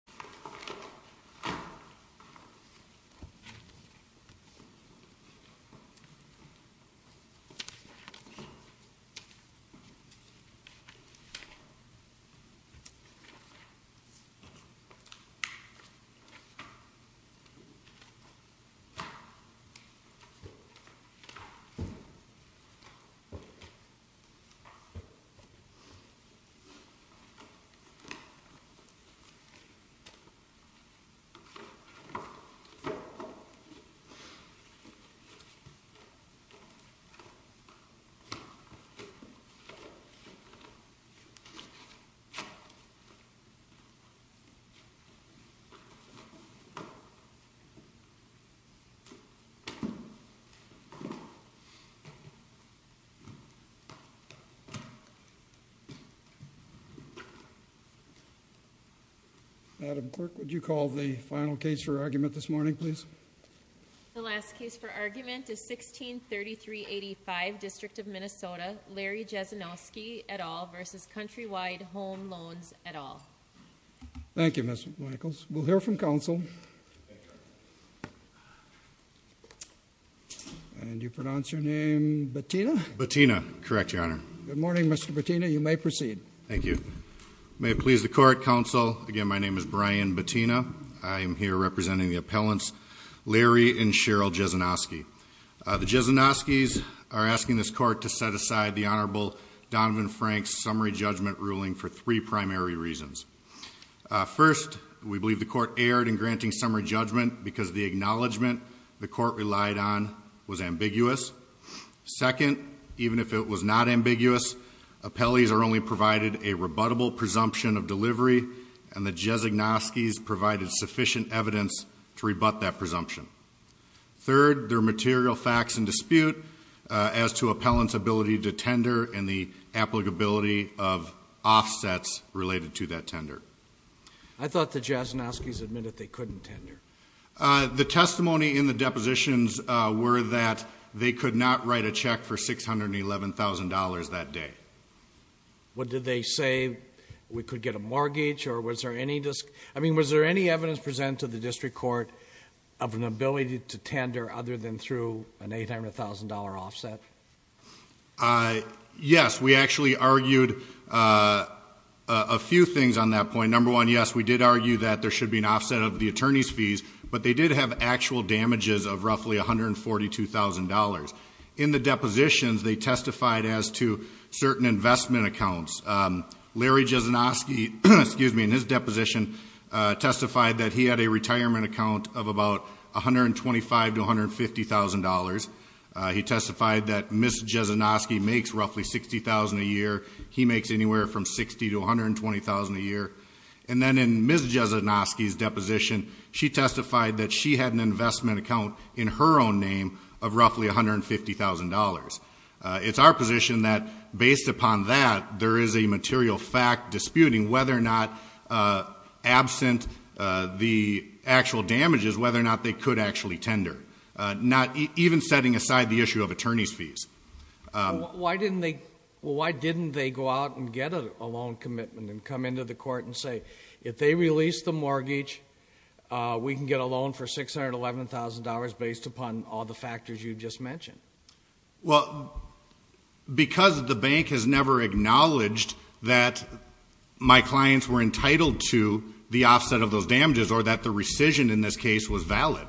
This video is a work of fiction. Any resemblance to actual people, events, or events is purely coincidental. This video is a work of fiction. Any resemblance to actual people, events, or events is purely coincidental. This video is a work of fiction. Any resemblance to actual people, events, or events is purely coincidental. I am here representing the appellants, Larry and Cheryl Jesinoski. The Jesinoskis are asking this court to set aside the Honorable Donovan Frank's summary judgment ruling for three primary reasons. First, we believe the court erred in granting summary judgment because the acknowledgment the court relied on was ambiguous. Second, even if it was not ambiguous, appellees are only provided a rebuttable presumption of delivery. And the Jesinoskis provided sufficient evidence to rebut that presumption. Third, there are material facts in dispute as to appellant's ability to tender and the applicability of offsets related to that tender. I thought the Jesinoskis admitted they couldn't tender. The testimony in the depositions were that they could not write a check for $611,000 that day. What did they say? We could get a mortgage or was there any, I mean, was there any evidence presented to the district court of an ability to tender other than through an $800,000 offset? Yes, we actually argued a few things on that point. Number one, yes, we did argue that there should be an offset of the attorney's fees, but they did have actual damages of roughly $142,000. In the depositions, they testified as to certain investment accounts. Larry Jesinoski, excuse me, in his deposition testified that he had a retirement account of about $125,000 to $150,000. He testified that Ms. Jesinoski makes roughly $60,000 a year. He makes anywhere from $60,000 to $120,000 a year. And then in Ms. Jesinoski's deposition, she testified that she had an investment account in her own name of roughly $150,000. It's our position that based upon that, there is a material fact disputing whether or not, absent the actual damages, whether or not they could actually tender. Even setting aside the issue of attorney's fees. Why didn't they go out and get a loan commitment and come into the court and say, if they release the mortgage, we can get a loan for $611,000 based upon all the factors you just mentioned? Well, because the bank has never acknowledged that my clients were entitled to the offset of those damages or that the rescission in this case was valid.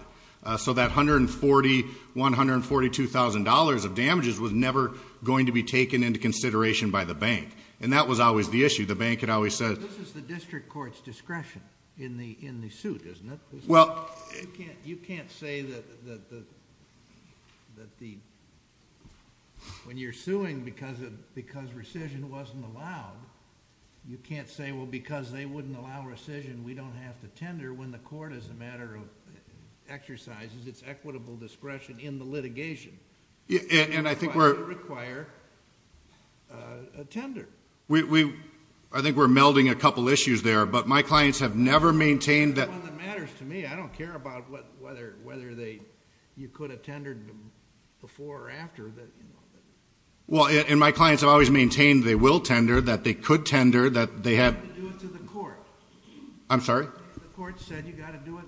So that $142,000 of damages was never going to be taken into consideration by the bank. And that was always the issue. The bank had always said- This is the district court's discretion in the suit, isn't it? You can't say that when you're suing because rescission wasn't allowed, you can't say, well, because they wouldn't allow rescission, we don't have to tender when the court is a matter of exercises. It's equitable discretion in the litigation. It would require a tender. We, I think we're melding a couple issues there. But my clients have never maintained that- That's the one that matters to me. I don't care about whether you could have tendered before or after. Well, and my clients have always maintained they will tender, that they could tender, that they have- You have to do it to the court. I'm sorry? The court said you got to do it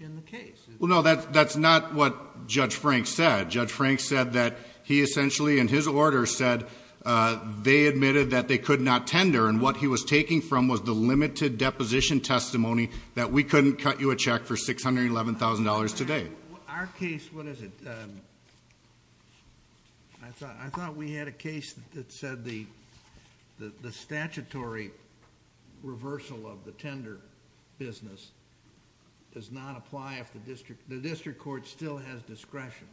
in the case. Well, no, that's not what Judge Frank said. Judge Frank said that he essentially, in his order, said they admitted that they could not tender, and what he was taking from was the limited deposition testimony that we couldn't cut you a check for $611,000 today. Our case, what is it? I thought we had a case that said the statutory reversal of the tender business does not apply if the district court still has discretion.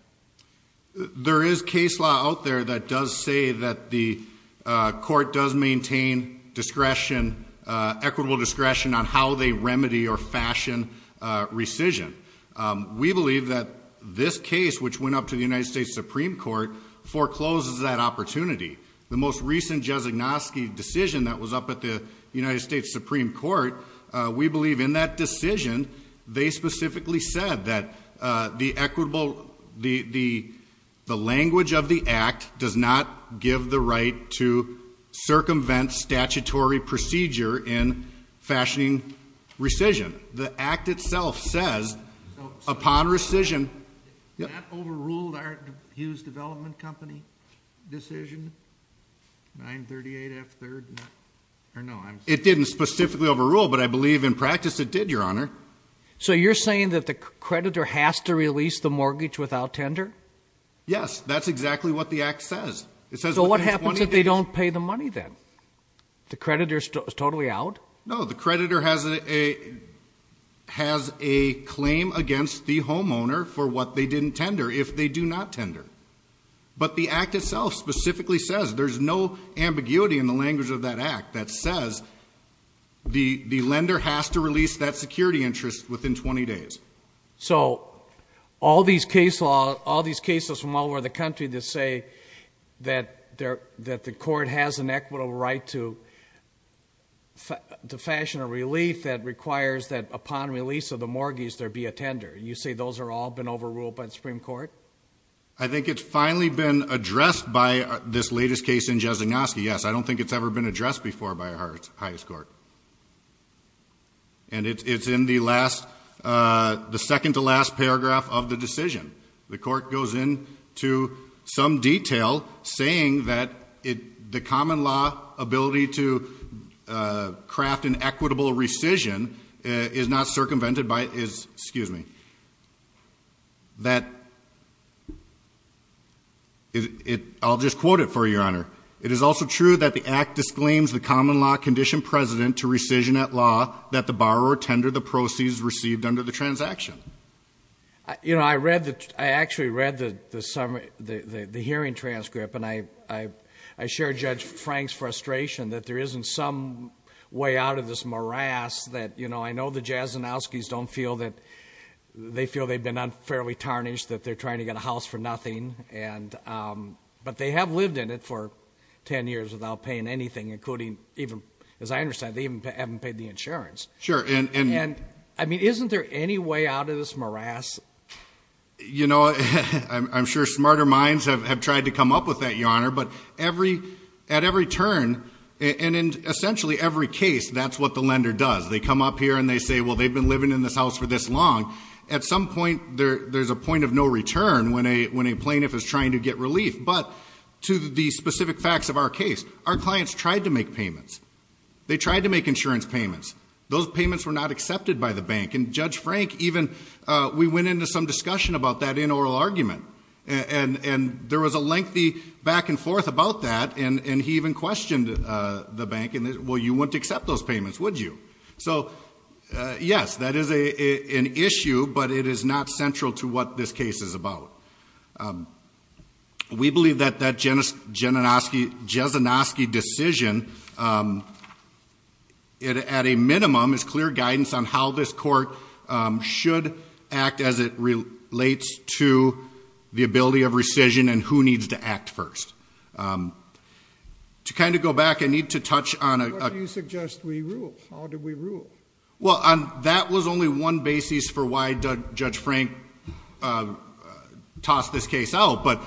There is case law out there that does say that the court does maintain discretion, equitable discretion on how they remedy or fashion rescission. We believe that this case, which went up to the United States Supreme Court, forecloses that opportunity. The most recent Jesignoski decision that was up at the United States Supreme Court, we believe in that decision, they specifically said that the language of the act does not give the right to circumvent statutory procedure in fashioning rescission. The act itself says, upon rescission- So that overruled our Hughes Development Company decision, 938 F3rd? Or no, I'm- It didn't specifically overrule, but I believe in practice it did, Your Honor. So you're saying that the creditor has to release the mortgage without tender? Yes, that's exactly what the act says. It says- So what happens if they don't pay the money then? The creditor is totally out? No, the creditor has a claim against the homeowner for what they didn't tender if they do not tender. But the act itself specifically says there's no ambiguity in the language of that act that says the lender has to release that security interest within 20 days. So all these cases from all over the country that say that the court has an equitable right to fashion a relief that requires that upon release of the mortgage there be a tender, you say those have all been overruled by the Supreme Court? I think it's finally been addressed by this latest case in Jesignoski. I don't think it's ever been addressed before by our highest court. And it's in the last- the second to last paragraph of the decision. The court goes into some detail saying that the common law ability to craft an equitable rescission is not circumvented by- is- excuse me- that- I'll just quote it for you, Your Honor. It is also true that the act disclaims the common law condition precedent to rescission at law that the borrower tendered the proceeds received under the transaction. You know, I read the- I actually read the summary- the hearing transcript and I share Judge Frank's frustration that there isn't some way out of this morass that, you know, I know the Jesignoskis don't feel that- they feel they've been unfairly tarnished, that they're trying to get a house for nothing and- but they have lived in it for 10 years without paying anything, including even- as I understand, they even haven't paid the insurance. And I mean, isn't there any way out of this morass? You know, I'm sure smarter minds have tried to come up with that, Your Honor, but every- at every turn and in essentially every case, that's what the lender does. They come up here and they say, well, they've been living in this house for this long. At some point, there's a point of no return when a plaintiff is trying to get relief. But to the specific facts of our case, our clients tried to make payments. They tried to make insurance payments. Those payments were not accepted by the bank and Judge Frank even- we went into some discussion about that in oral argument and there was a lengthy back and forth about that and he even questioned the bank and, well, you wouldn't accept those but it is not central to what this case is about. We believe that that Jezinoski decision, at a minimum, is clear guidance on how this court should act as it relates to the ability of rescission and who needs to act first. To kind of go back, I need to touch on- What do you suggest we rule? How do we rule? Well, that was only one basis for why Judge Frank tossed this case out. But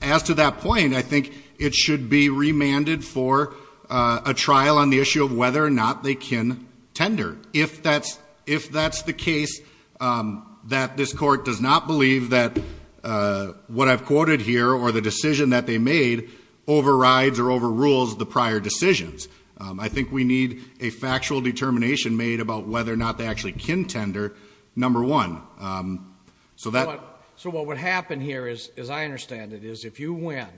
as to that point, I think it should be remanded for a trial on the issue of whether or not they can tender. If that's the case, that this court does not believe that what I've quoted here or the decision that they made overrides or overrules the prior decisions. I think we need a factual determination made about whether or not they actually can tender, number one. So what would happen here, as I understand it, is if you win,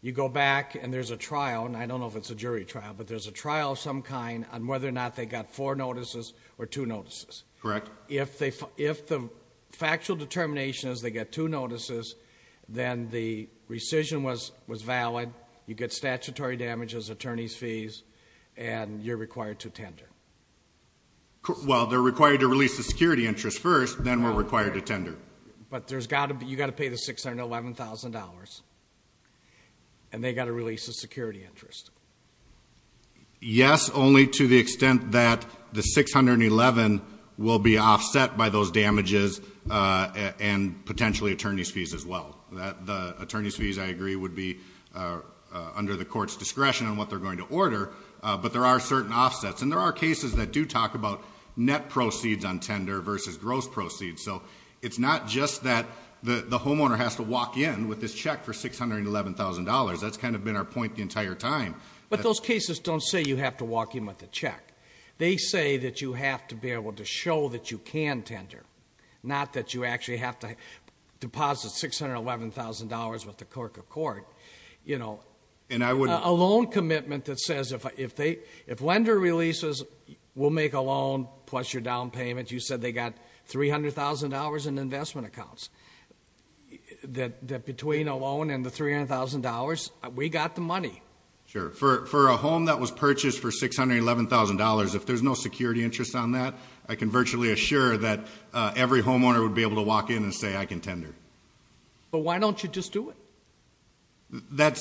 you go back and there's a trial, and I don't know if it's a jury trial, but there's a trial of some kind on whether or not they got four notices or two notices. Correct. If the factual determination is they get two notices, then the rescission was valid, you get statutory damages, attorney's fees, and you're required to tender. Well, they're required to release the security interest first, then we're required to tender. But you've got to pay the $611,000, and they've got to release the security interest. Yes, only to the extent that the $611,000 will be offset by those damages and potentially attorney's fees as well. The attorney's fees, I agree, would be under the court's discretion on what they're going to order, but there are certain offsets. And there are cases that do talk about net proceeds on tender versus gross proceeds. So it's not just that the homeowner has to walk in with this check for $611,000. That's kind of been our point the entire time. But those cases don't say you have to walk in with a check. They say that you have to be able to show that you can tender, not that you actually have to deposit $611,000 with the clerk of court. A loan commitment that says if lender releases, we'll make a loan plus your down payment. You said they got $300,000 in investment accounts. That between a loan and the $300,000, we got the money. Sure. For a home that was purchased for $611,000, if there's no security interest on that, I can virtually assure that every homeowner would be able to walk in and say, I can tender. But why don't you just do it?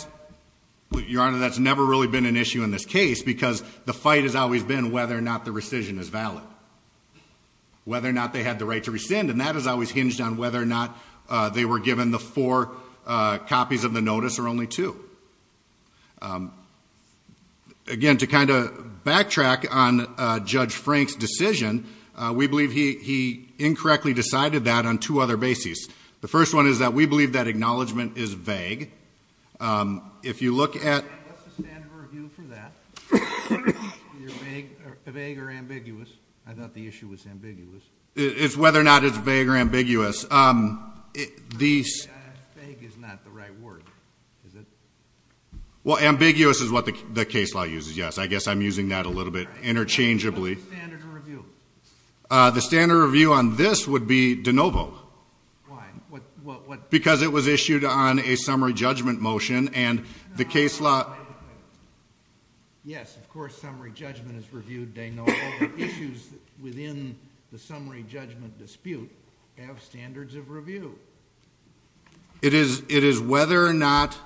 Your Honor, that's never really been an issue in this case because the fight has always been whether or not the rescission is valid, whether or not they had the right to rescind. And that has always hinged on whether or not they were given the four copies of the notice or only two. Again, to kind of backtrack on Judge Frank's decision, we believe he incorrectly decided that on two other bases. The first one is that we believe that acknowledgment is vague. If you look at... What's the standard of review for that? Vague or ambiguous? I thought the issue was ambiguous. It's whether or not it's vague or ambiguous. Vague is not the right word. Well, ambiguous is what the case law uses, yes. I guess I'm using that a little bit interchangeably. What's the standard of review? The standard of review on this would be de novo. Why? Because it was issued on a summary judgment motion and the case law... Yes, of course, summary judgment is reviewed de novo. Issues within the summary judgment dispute have standards of review. It is whether or not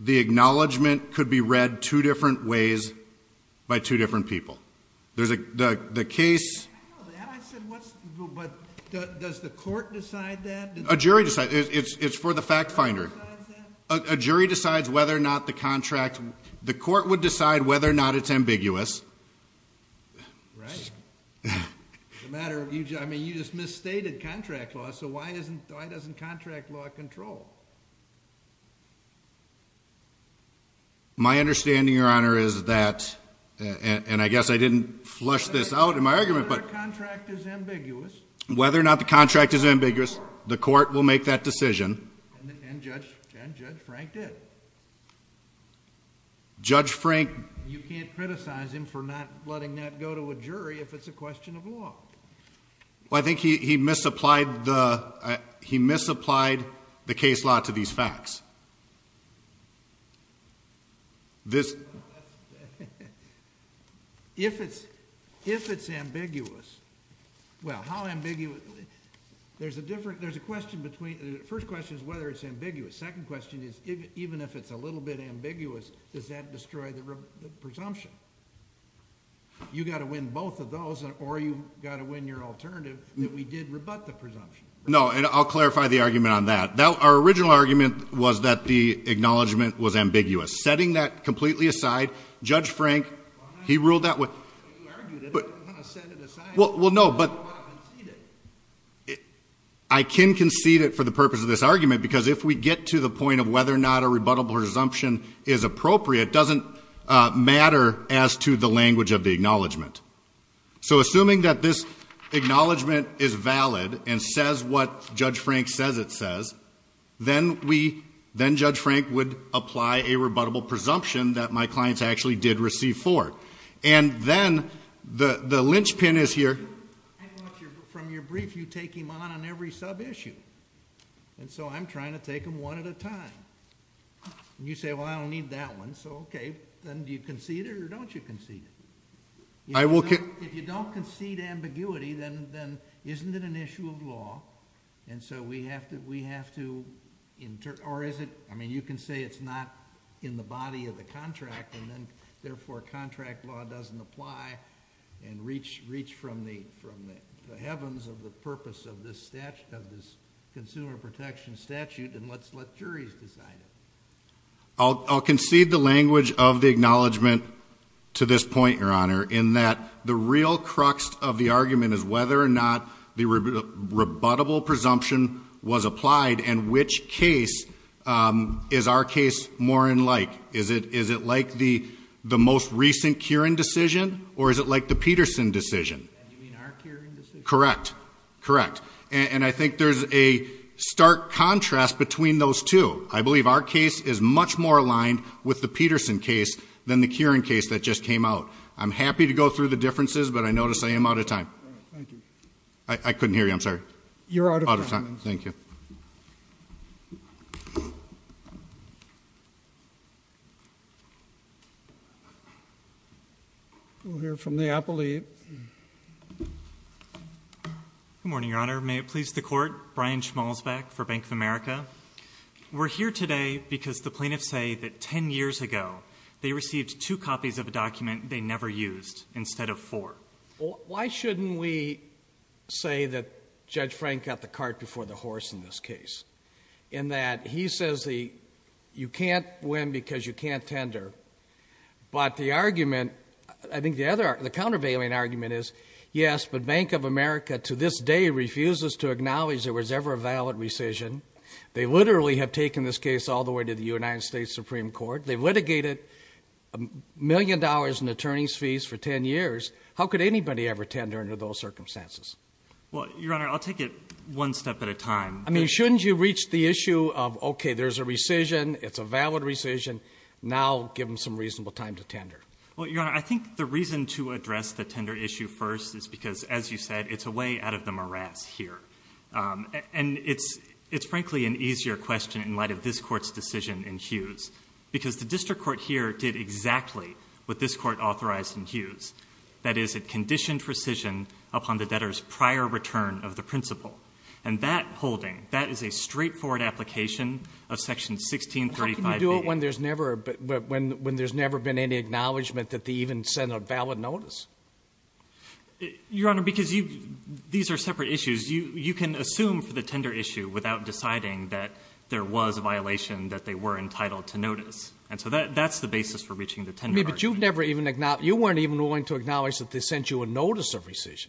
the acknowledgment could be read two different ways by two different people. There's a case... Does the court decide that? A jury decides. It's for the fact finder. A jury decides whether or not the contract... The court would decide whether or not it's ambiguous. Right. It's a matter of... I mean, you just misstated contract law, so why doesn't contract law control? My understanding, your honor, is that... And I guess I didn't flush this out in my argument, but... Whether or not the contract is ambiguous. Whether or not the contract is ambiguous, the court will make that decision. And Judge Frank did. Judge Frank... You can't criticize him for not letting that go to a jury if it's a question of law. Well, I think he misapplied the case law to these facts. If it's ambiguous... Well, how ambiguous... There's a question between... The first question is whether it's ambiguous. Second question is, even if it's a little bit ambiguous, does that destroy the presumption? You got to win both of those, or you got to win your alternative that we did rebut the presumption. No, and I'll clarify the argument on that. Our original argument was that the acknowledgment was ambiguous. Setting that completely aside, Judge Frank, he ruled that with... You argued it. You kind of set it aside. Well, no, but... I can concede it for the purpose of this argument, because if we get to the point of whether or not a rebuttable presumption is appropriate, it doesn't matter as to the language of the acknowledgment. So assuming that this acknowledgment is valid and says what Judge Frank says it says, then Judge Frank would apply a rebuttable presumption that my I brought your... From your brief, you take him on on every sub-issue, and so I'm trying to take him one at a time. You say, well, I don't need that one. So okay, then do you concede it or don't you concede it? If you don't concede ambiguity, then isn't it an issue of law? And so we have to... Or is it... I mean, you can say it's not in the body of the heavens of the purpose of this consumer protection statute, and let's let juries decide it. I'll concede the language of the acknowledgment to this point, Your Honor, in that the real crux of the argument is whether or not the rebuttable presumption was applied and which case is our case more in like. Is it like the most recent Kieran decision, or is it like the Peterson decision? You mean our Kieran decision? Correct. Correct. And I think there's a stark contrast between those two. I believe our case is much more aligned with the Peterson case than the Kieran case that just came out. I'm happy to go through the differences, but I notice I am out of time. Thank you. I couldn't hear you. I'm sorry. You're out of time. Thank you. We'll hear from the appellate. Good morning, Your Honor. May it please the Court? Brian Schmalzbeck for Bank of America. We're here today because the plaintiffs say that 10 years ago, they received two copies of a document they never used instead of four. Why shouldn't we say that Judge Frank got the cart before the horse in this case, in that he says you can't win because you can't tender, but the countervailing argument is, yes, but Bank of America to this day refuses to acknowledge there was ever a valid rescission. They literally have taken this case all the way to the United States Supreme Court. They've paid $1 million in attorney's fees for 10 years. How could anybody ever tender under those circumstances? Well, Your Honor, I'll take it one step at a time. I mean, shouldn't you reach the issue of, okay, there's a rescission, it's a valid rescission, now give them some reasonable time to tender? Well, Your Honor, I think the reason to address the tender issue first is because, as you said, it's a way out of the morass here. And it's frankly an easier question in light of this Court's decision in Hughes, because the district court here did exactly what this Court authorized in Hughes. That is, it conditioned rescission upon the debtor's prior return of the principal. And that holding, that is a straightforward application of Section 1635B. How can you do it when there's never been any acknowledgement that they even sent a valid notice? Your Honor, because these are separate issues. You can assume for the tender issue without deciding that there was a violation that they were entitled to notice. And so that's the basis for reaching the tender argument. I mean, but you've never even acknowledged, you weren't even willing to acknowledge that they sent you a notice of rescission.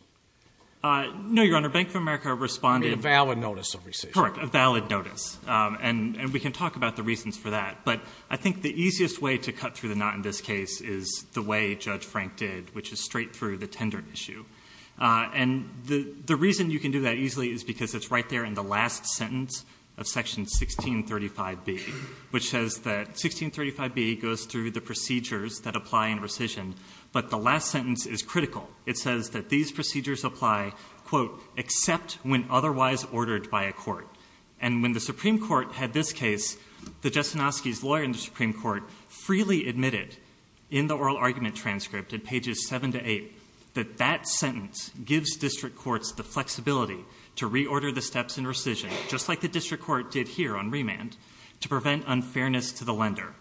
No, Your Honor. Bank of America responded. I mean, a valid notice of rescission. Correct. A valid notice. And we can talk about the reasons for that. But I think the easiest way to cut through the knot in this case is the way Judge Frank did, which is straight through the tender issue. And the reason you can do that easily is because it's right there in the last sentence of Section 1635B, which says that 1635B goes through the procedures that apply in rescission. But the last sentence is critical. It says that these procedures apply, quote, except when otherwise ordered by a court. And when the Supreme Court had this case, the Jastrzynowski's lawyer in the Supreme Court freely admitted in the oral argument transcript in pages 7 to 8 that that sentence gives district courts the flexibility to reorder the steps in rescission, just like the district court did here on remand, to prevent unfairness to the lender.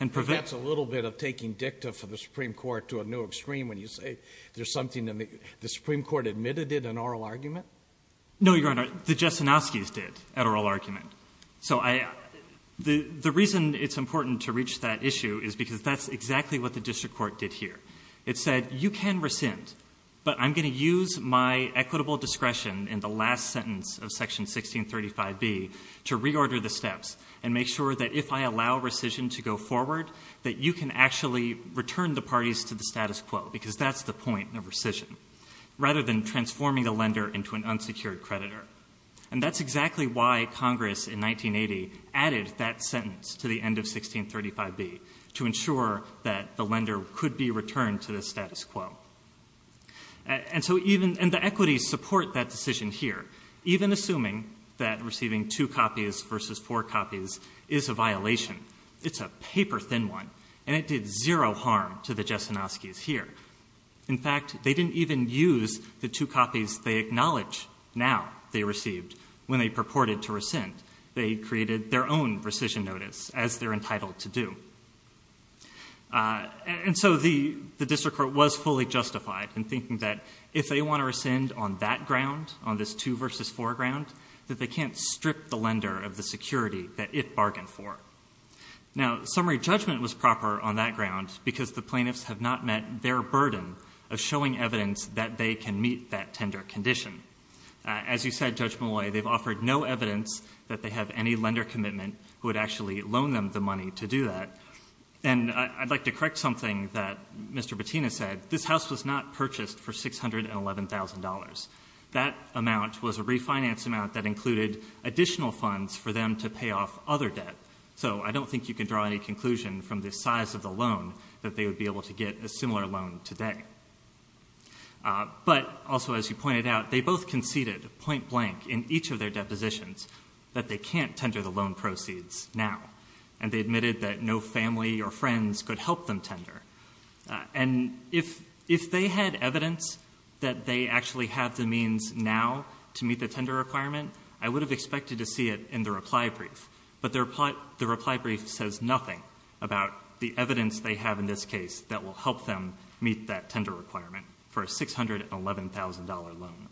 That's a little bit of taking dicta for the Supreme Court to a new extreme when you say there's something that the Supreme Court admitted in an oral argument? No, Your Honor. The Jastrzynowski's did at oral argument. So the reason it's important to reach that issue is because that's exactly what the district court did here. It said, you can rescind, but I'm going to use my equitable discretion in the last sentence of Section 1635B to reorder the steps and make sure that if I allow rescission to go forward, that you can actually return the parties to the status quo, because that's the point of rescission, rather than transforming the lender into an unsecured creditor. And that's exactly why Congress in 1980 added that sentence to the end of 1635B, to ensure that the lender could be returned to the status quo. And so even, and the equities support that decision here, even assuming that receiving two copies versus four copies is a violation. It's a paper-thin one, and it did zero harm to the Jastrzynowski's here. In fact, they didn't even use the two copies they acknowledge now they received when they purported to rescind. They created their own rescission notice, as they're entitled to do. And so the district court was fully justified in thinking that if they want to rescind on that ground, on this two versus four ground, that they can't strip the lender of the security that it bargained for. Now, summary judgment was proper on that ground because the plaintiffs have not met their burden of showing evidence that they can meet that condition. As you said, Judge Molloy, they've offered no evidence that they have any lender commitment who would actually loan them the money to do that. And I'd like to correct something that Mr. Bettina said. This house was not purchased for $611,000. That amount was a refinance amount that included additional funds for them to pay off other debt. So I don't think you can draw any conclusion from the size of the loan that they would be able to get a similar loan today. But also, as you pointed out, they both conceded point blank in each of their depositions that they can't tender the loan proceeds now. And they admitted that no family or friends could help them tender. And if they had evidence that they actually have the means now to meet the tender requirement, I would have expected to see it in the reply brief. But the reply brief says nothing about the evidence they have in this case that will help them meet that tender requirement for a $611,000 loan.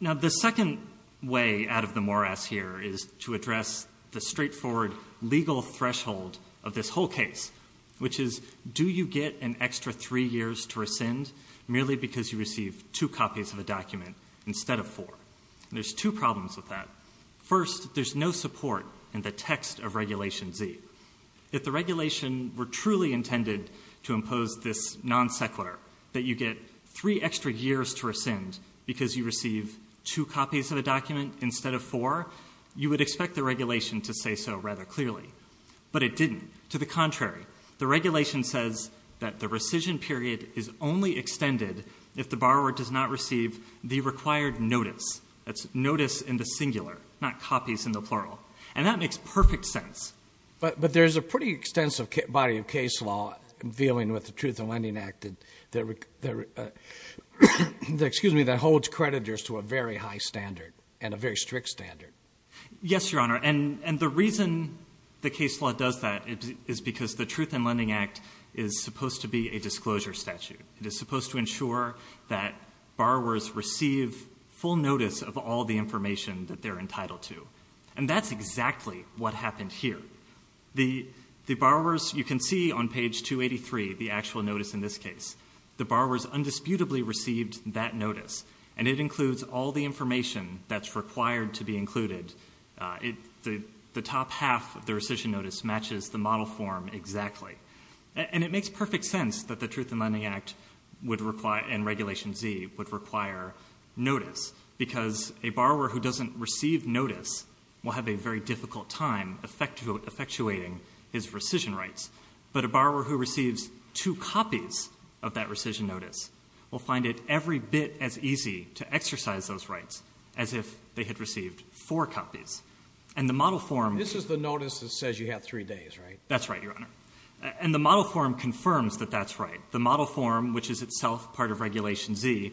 Now, the second way out of the morass here is to address the straightforward legal threshold of this whole case, which is, do you get an extra three years to rescind merely because you received two copies of the document instead of four? There's two problems with that. First, there's no support in the text of Regulation Z. If the regulation were truly intended to impose this non sequitur, that you get three extra years to rescind because you receive two copies of a document instead of four, you would expect the regulation to say so rather clearly. But it didn't. To the contrary, the regulation says that the rescission period is only extended if the borrower does not receive the required notice. That's notice in the singular, not copies in the plural. And that makes perfect sense. But there's a pretty extensive body of case law dealing with the Truth in Lending Act that holds creditors to a very high standard and a very strict standard. Yes, Your Honor. And the reason the case law does that is because the Truth in Lending Act is supposed to be a disclosure statute. It is supposed to ensure that borrowers receive full notice of all the information that they're entitled to. And that's exactly what happened here. You can see on page 283 the actual notice in this case. The borrowers undisputably received that notice. And it includes all the information that's required to be included. The top half of the rescission notice matches the model form exactly. And it makes perfect sense that the Truth in Lending Act and Regulation Z would require notice. Because a borrower who doesn't receive notice will have a very difficult time effectuating his rescission rights. But a borrower who receives two copies of that rescission notice will find it every bit as easy to exercise those rights as if they had received four copies. And the model form — This is the notice that says you have three days, right? That's right, Your Honor. And the model form confirms that that's right. The model form, which is itself part of Regulation Z,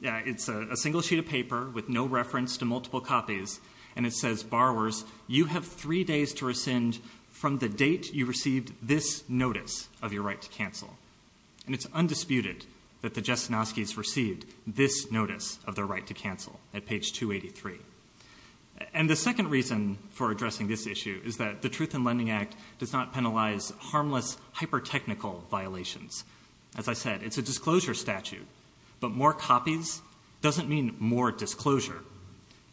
it's a single sheet of paper with no reference to multiple copies. And it says, borrowers, you have three days to rescind from the date you received this notice of your right to cancel. And it's undisputed that the Jasnowskis received this notice of their right to cancel at page 283. And the second reason for addressing this issue is that the Truth in Lending Act does not penalize harmless, hyper-technical violations. As I said, it's a disclosure statute. But more copies doesn't mean more disclosure.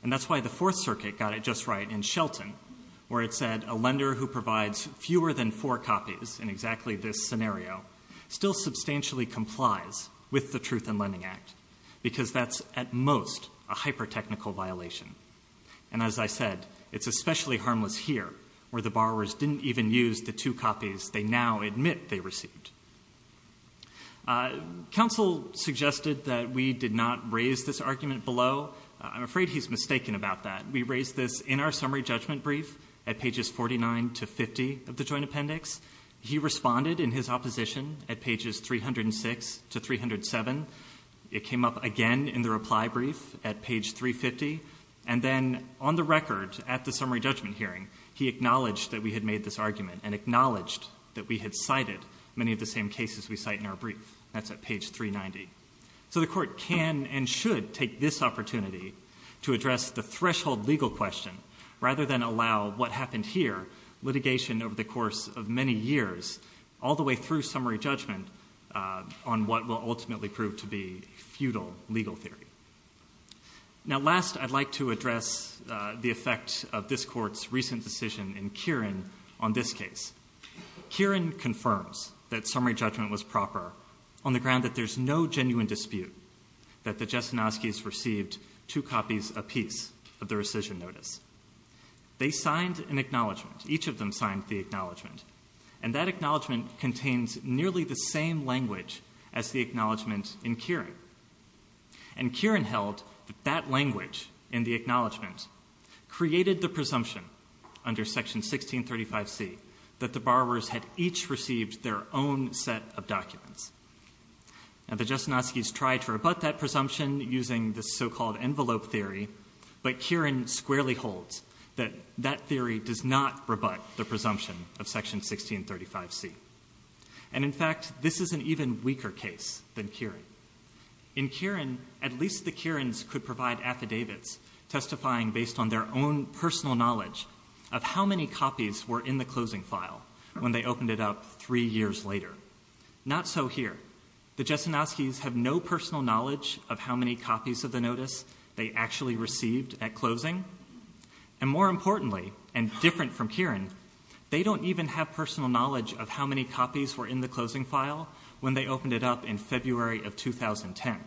And that's why the Fourth Circuit got it just right in Shelton, where it said a lender who provides fewer than four copies in exactly this scenario still substantially complies with the Truth in Lending Act, because that's at most a hyper-technical violation. And as I said, it's especially harmless here, where the borrowers didn't even use the two copies they now admit they received. Council suggested that we did not raise this argument below. I'm afraid he's mistaken about that. We raised this in our summary judgment brief at pages 49 to 50 of the Joint Appendix. He responded in his opposition at pages 306 to 307. It came up again in the reply brief at page 350. And then on the record at the summary judgment hearing, he acknowledged that we had made this argument and acknowledged that we had cited many of the same cases we cite in our brief. That's at page 390. So the Court can and should take this opportunity to address the threshold legal question, rather than allow what happened here, litigation over the course of many years, all the way through summary judgment, on what will ultimately prove to be futile legal theory. Now last, I'd like to address the effect of this Court's recent decision in Kieran on this case. Kieran confirms that summary judgment was proper on the ground that there's no genuine dispute that the Jastunowskis received two copies apiece of the rescission notice. They signed an acknowledgment. Each of them signed the acknowledgment. And that acknowledgment contains nearly the same language as the acknowledgment in Kieran. And Kieran held that that language in the acknowledgment created the presumption under Section 1635C that the borrowers had each received their own set of documents. Now the Jastunowskis tried to rebut that presumption using the so-called envelope theory, but Kieran squarely holds that that theory does not rebut the presumption of Section 1635C. And in fact, this is an even weaker case than Kieran. In Kieran, at least the Kierans could provide affidavits testifying based on their own personal knowledge of how many copies were in the closing file when they opened it up three years later. Not so here. The Jastunowskis have no personal knowledge of how many copies of the notice they actually received at closing. And more importantly and different from Kieran, they don't even have personal knowledge of how many copies were in the closing file when they opened it up in February of 2010.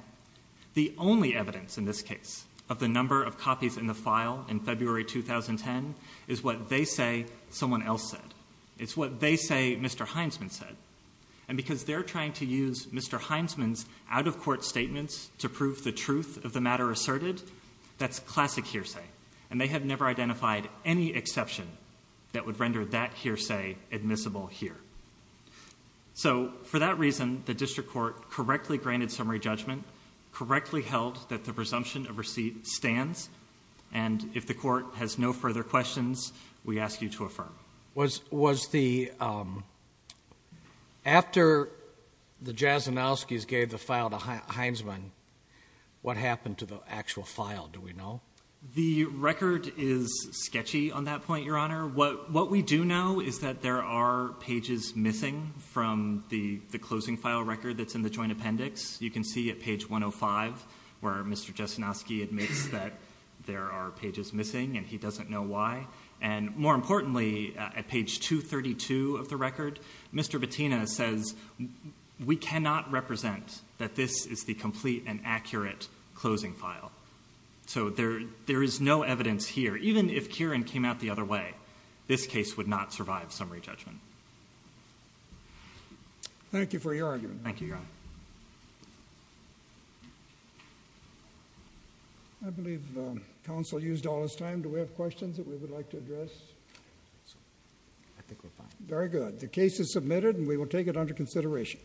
The only evidence in this case of the number of copies in the file in February 2010 is what they say someone else said. It's what they say Mr. Heinsman said. And because they're trying to use Mr. Heinsman's out-of-court statements to prove the truth of the matter asserted, that's classic hearsay. And they have never identified any exception that would So, for that reason, the district court correctly granted summary judgment, correctly held that the presumption of receipt stands, and if the court has no further questions, we ask you to affirm. Was the, um, after the Jastunowskis gave the file to Heinsman, what happened to the actual file, do we know? The record is sketchy on that point, Your Honor. What we do know is that there are pages missing from the closing file record that's in the joint appendix. You can see at page 105 where Mr. Jastunowski admits that there are pages missing, and he doesn't know why. And more importantly, at page 232 of the record, Mr. Bettina says, we cannot represent that this is the complete and accurate closing file. So there is no evidence here. Even if it survives summary judgment. Thank you for your argument. Thank you, Your Honor. I believe counsel used all his time. Do we have questions that we would like to address? I think we're fine. Very good. The case is submitted, and we will take it under consideration.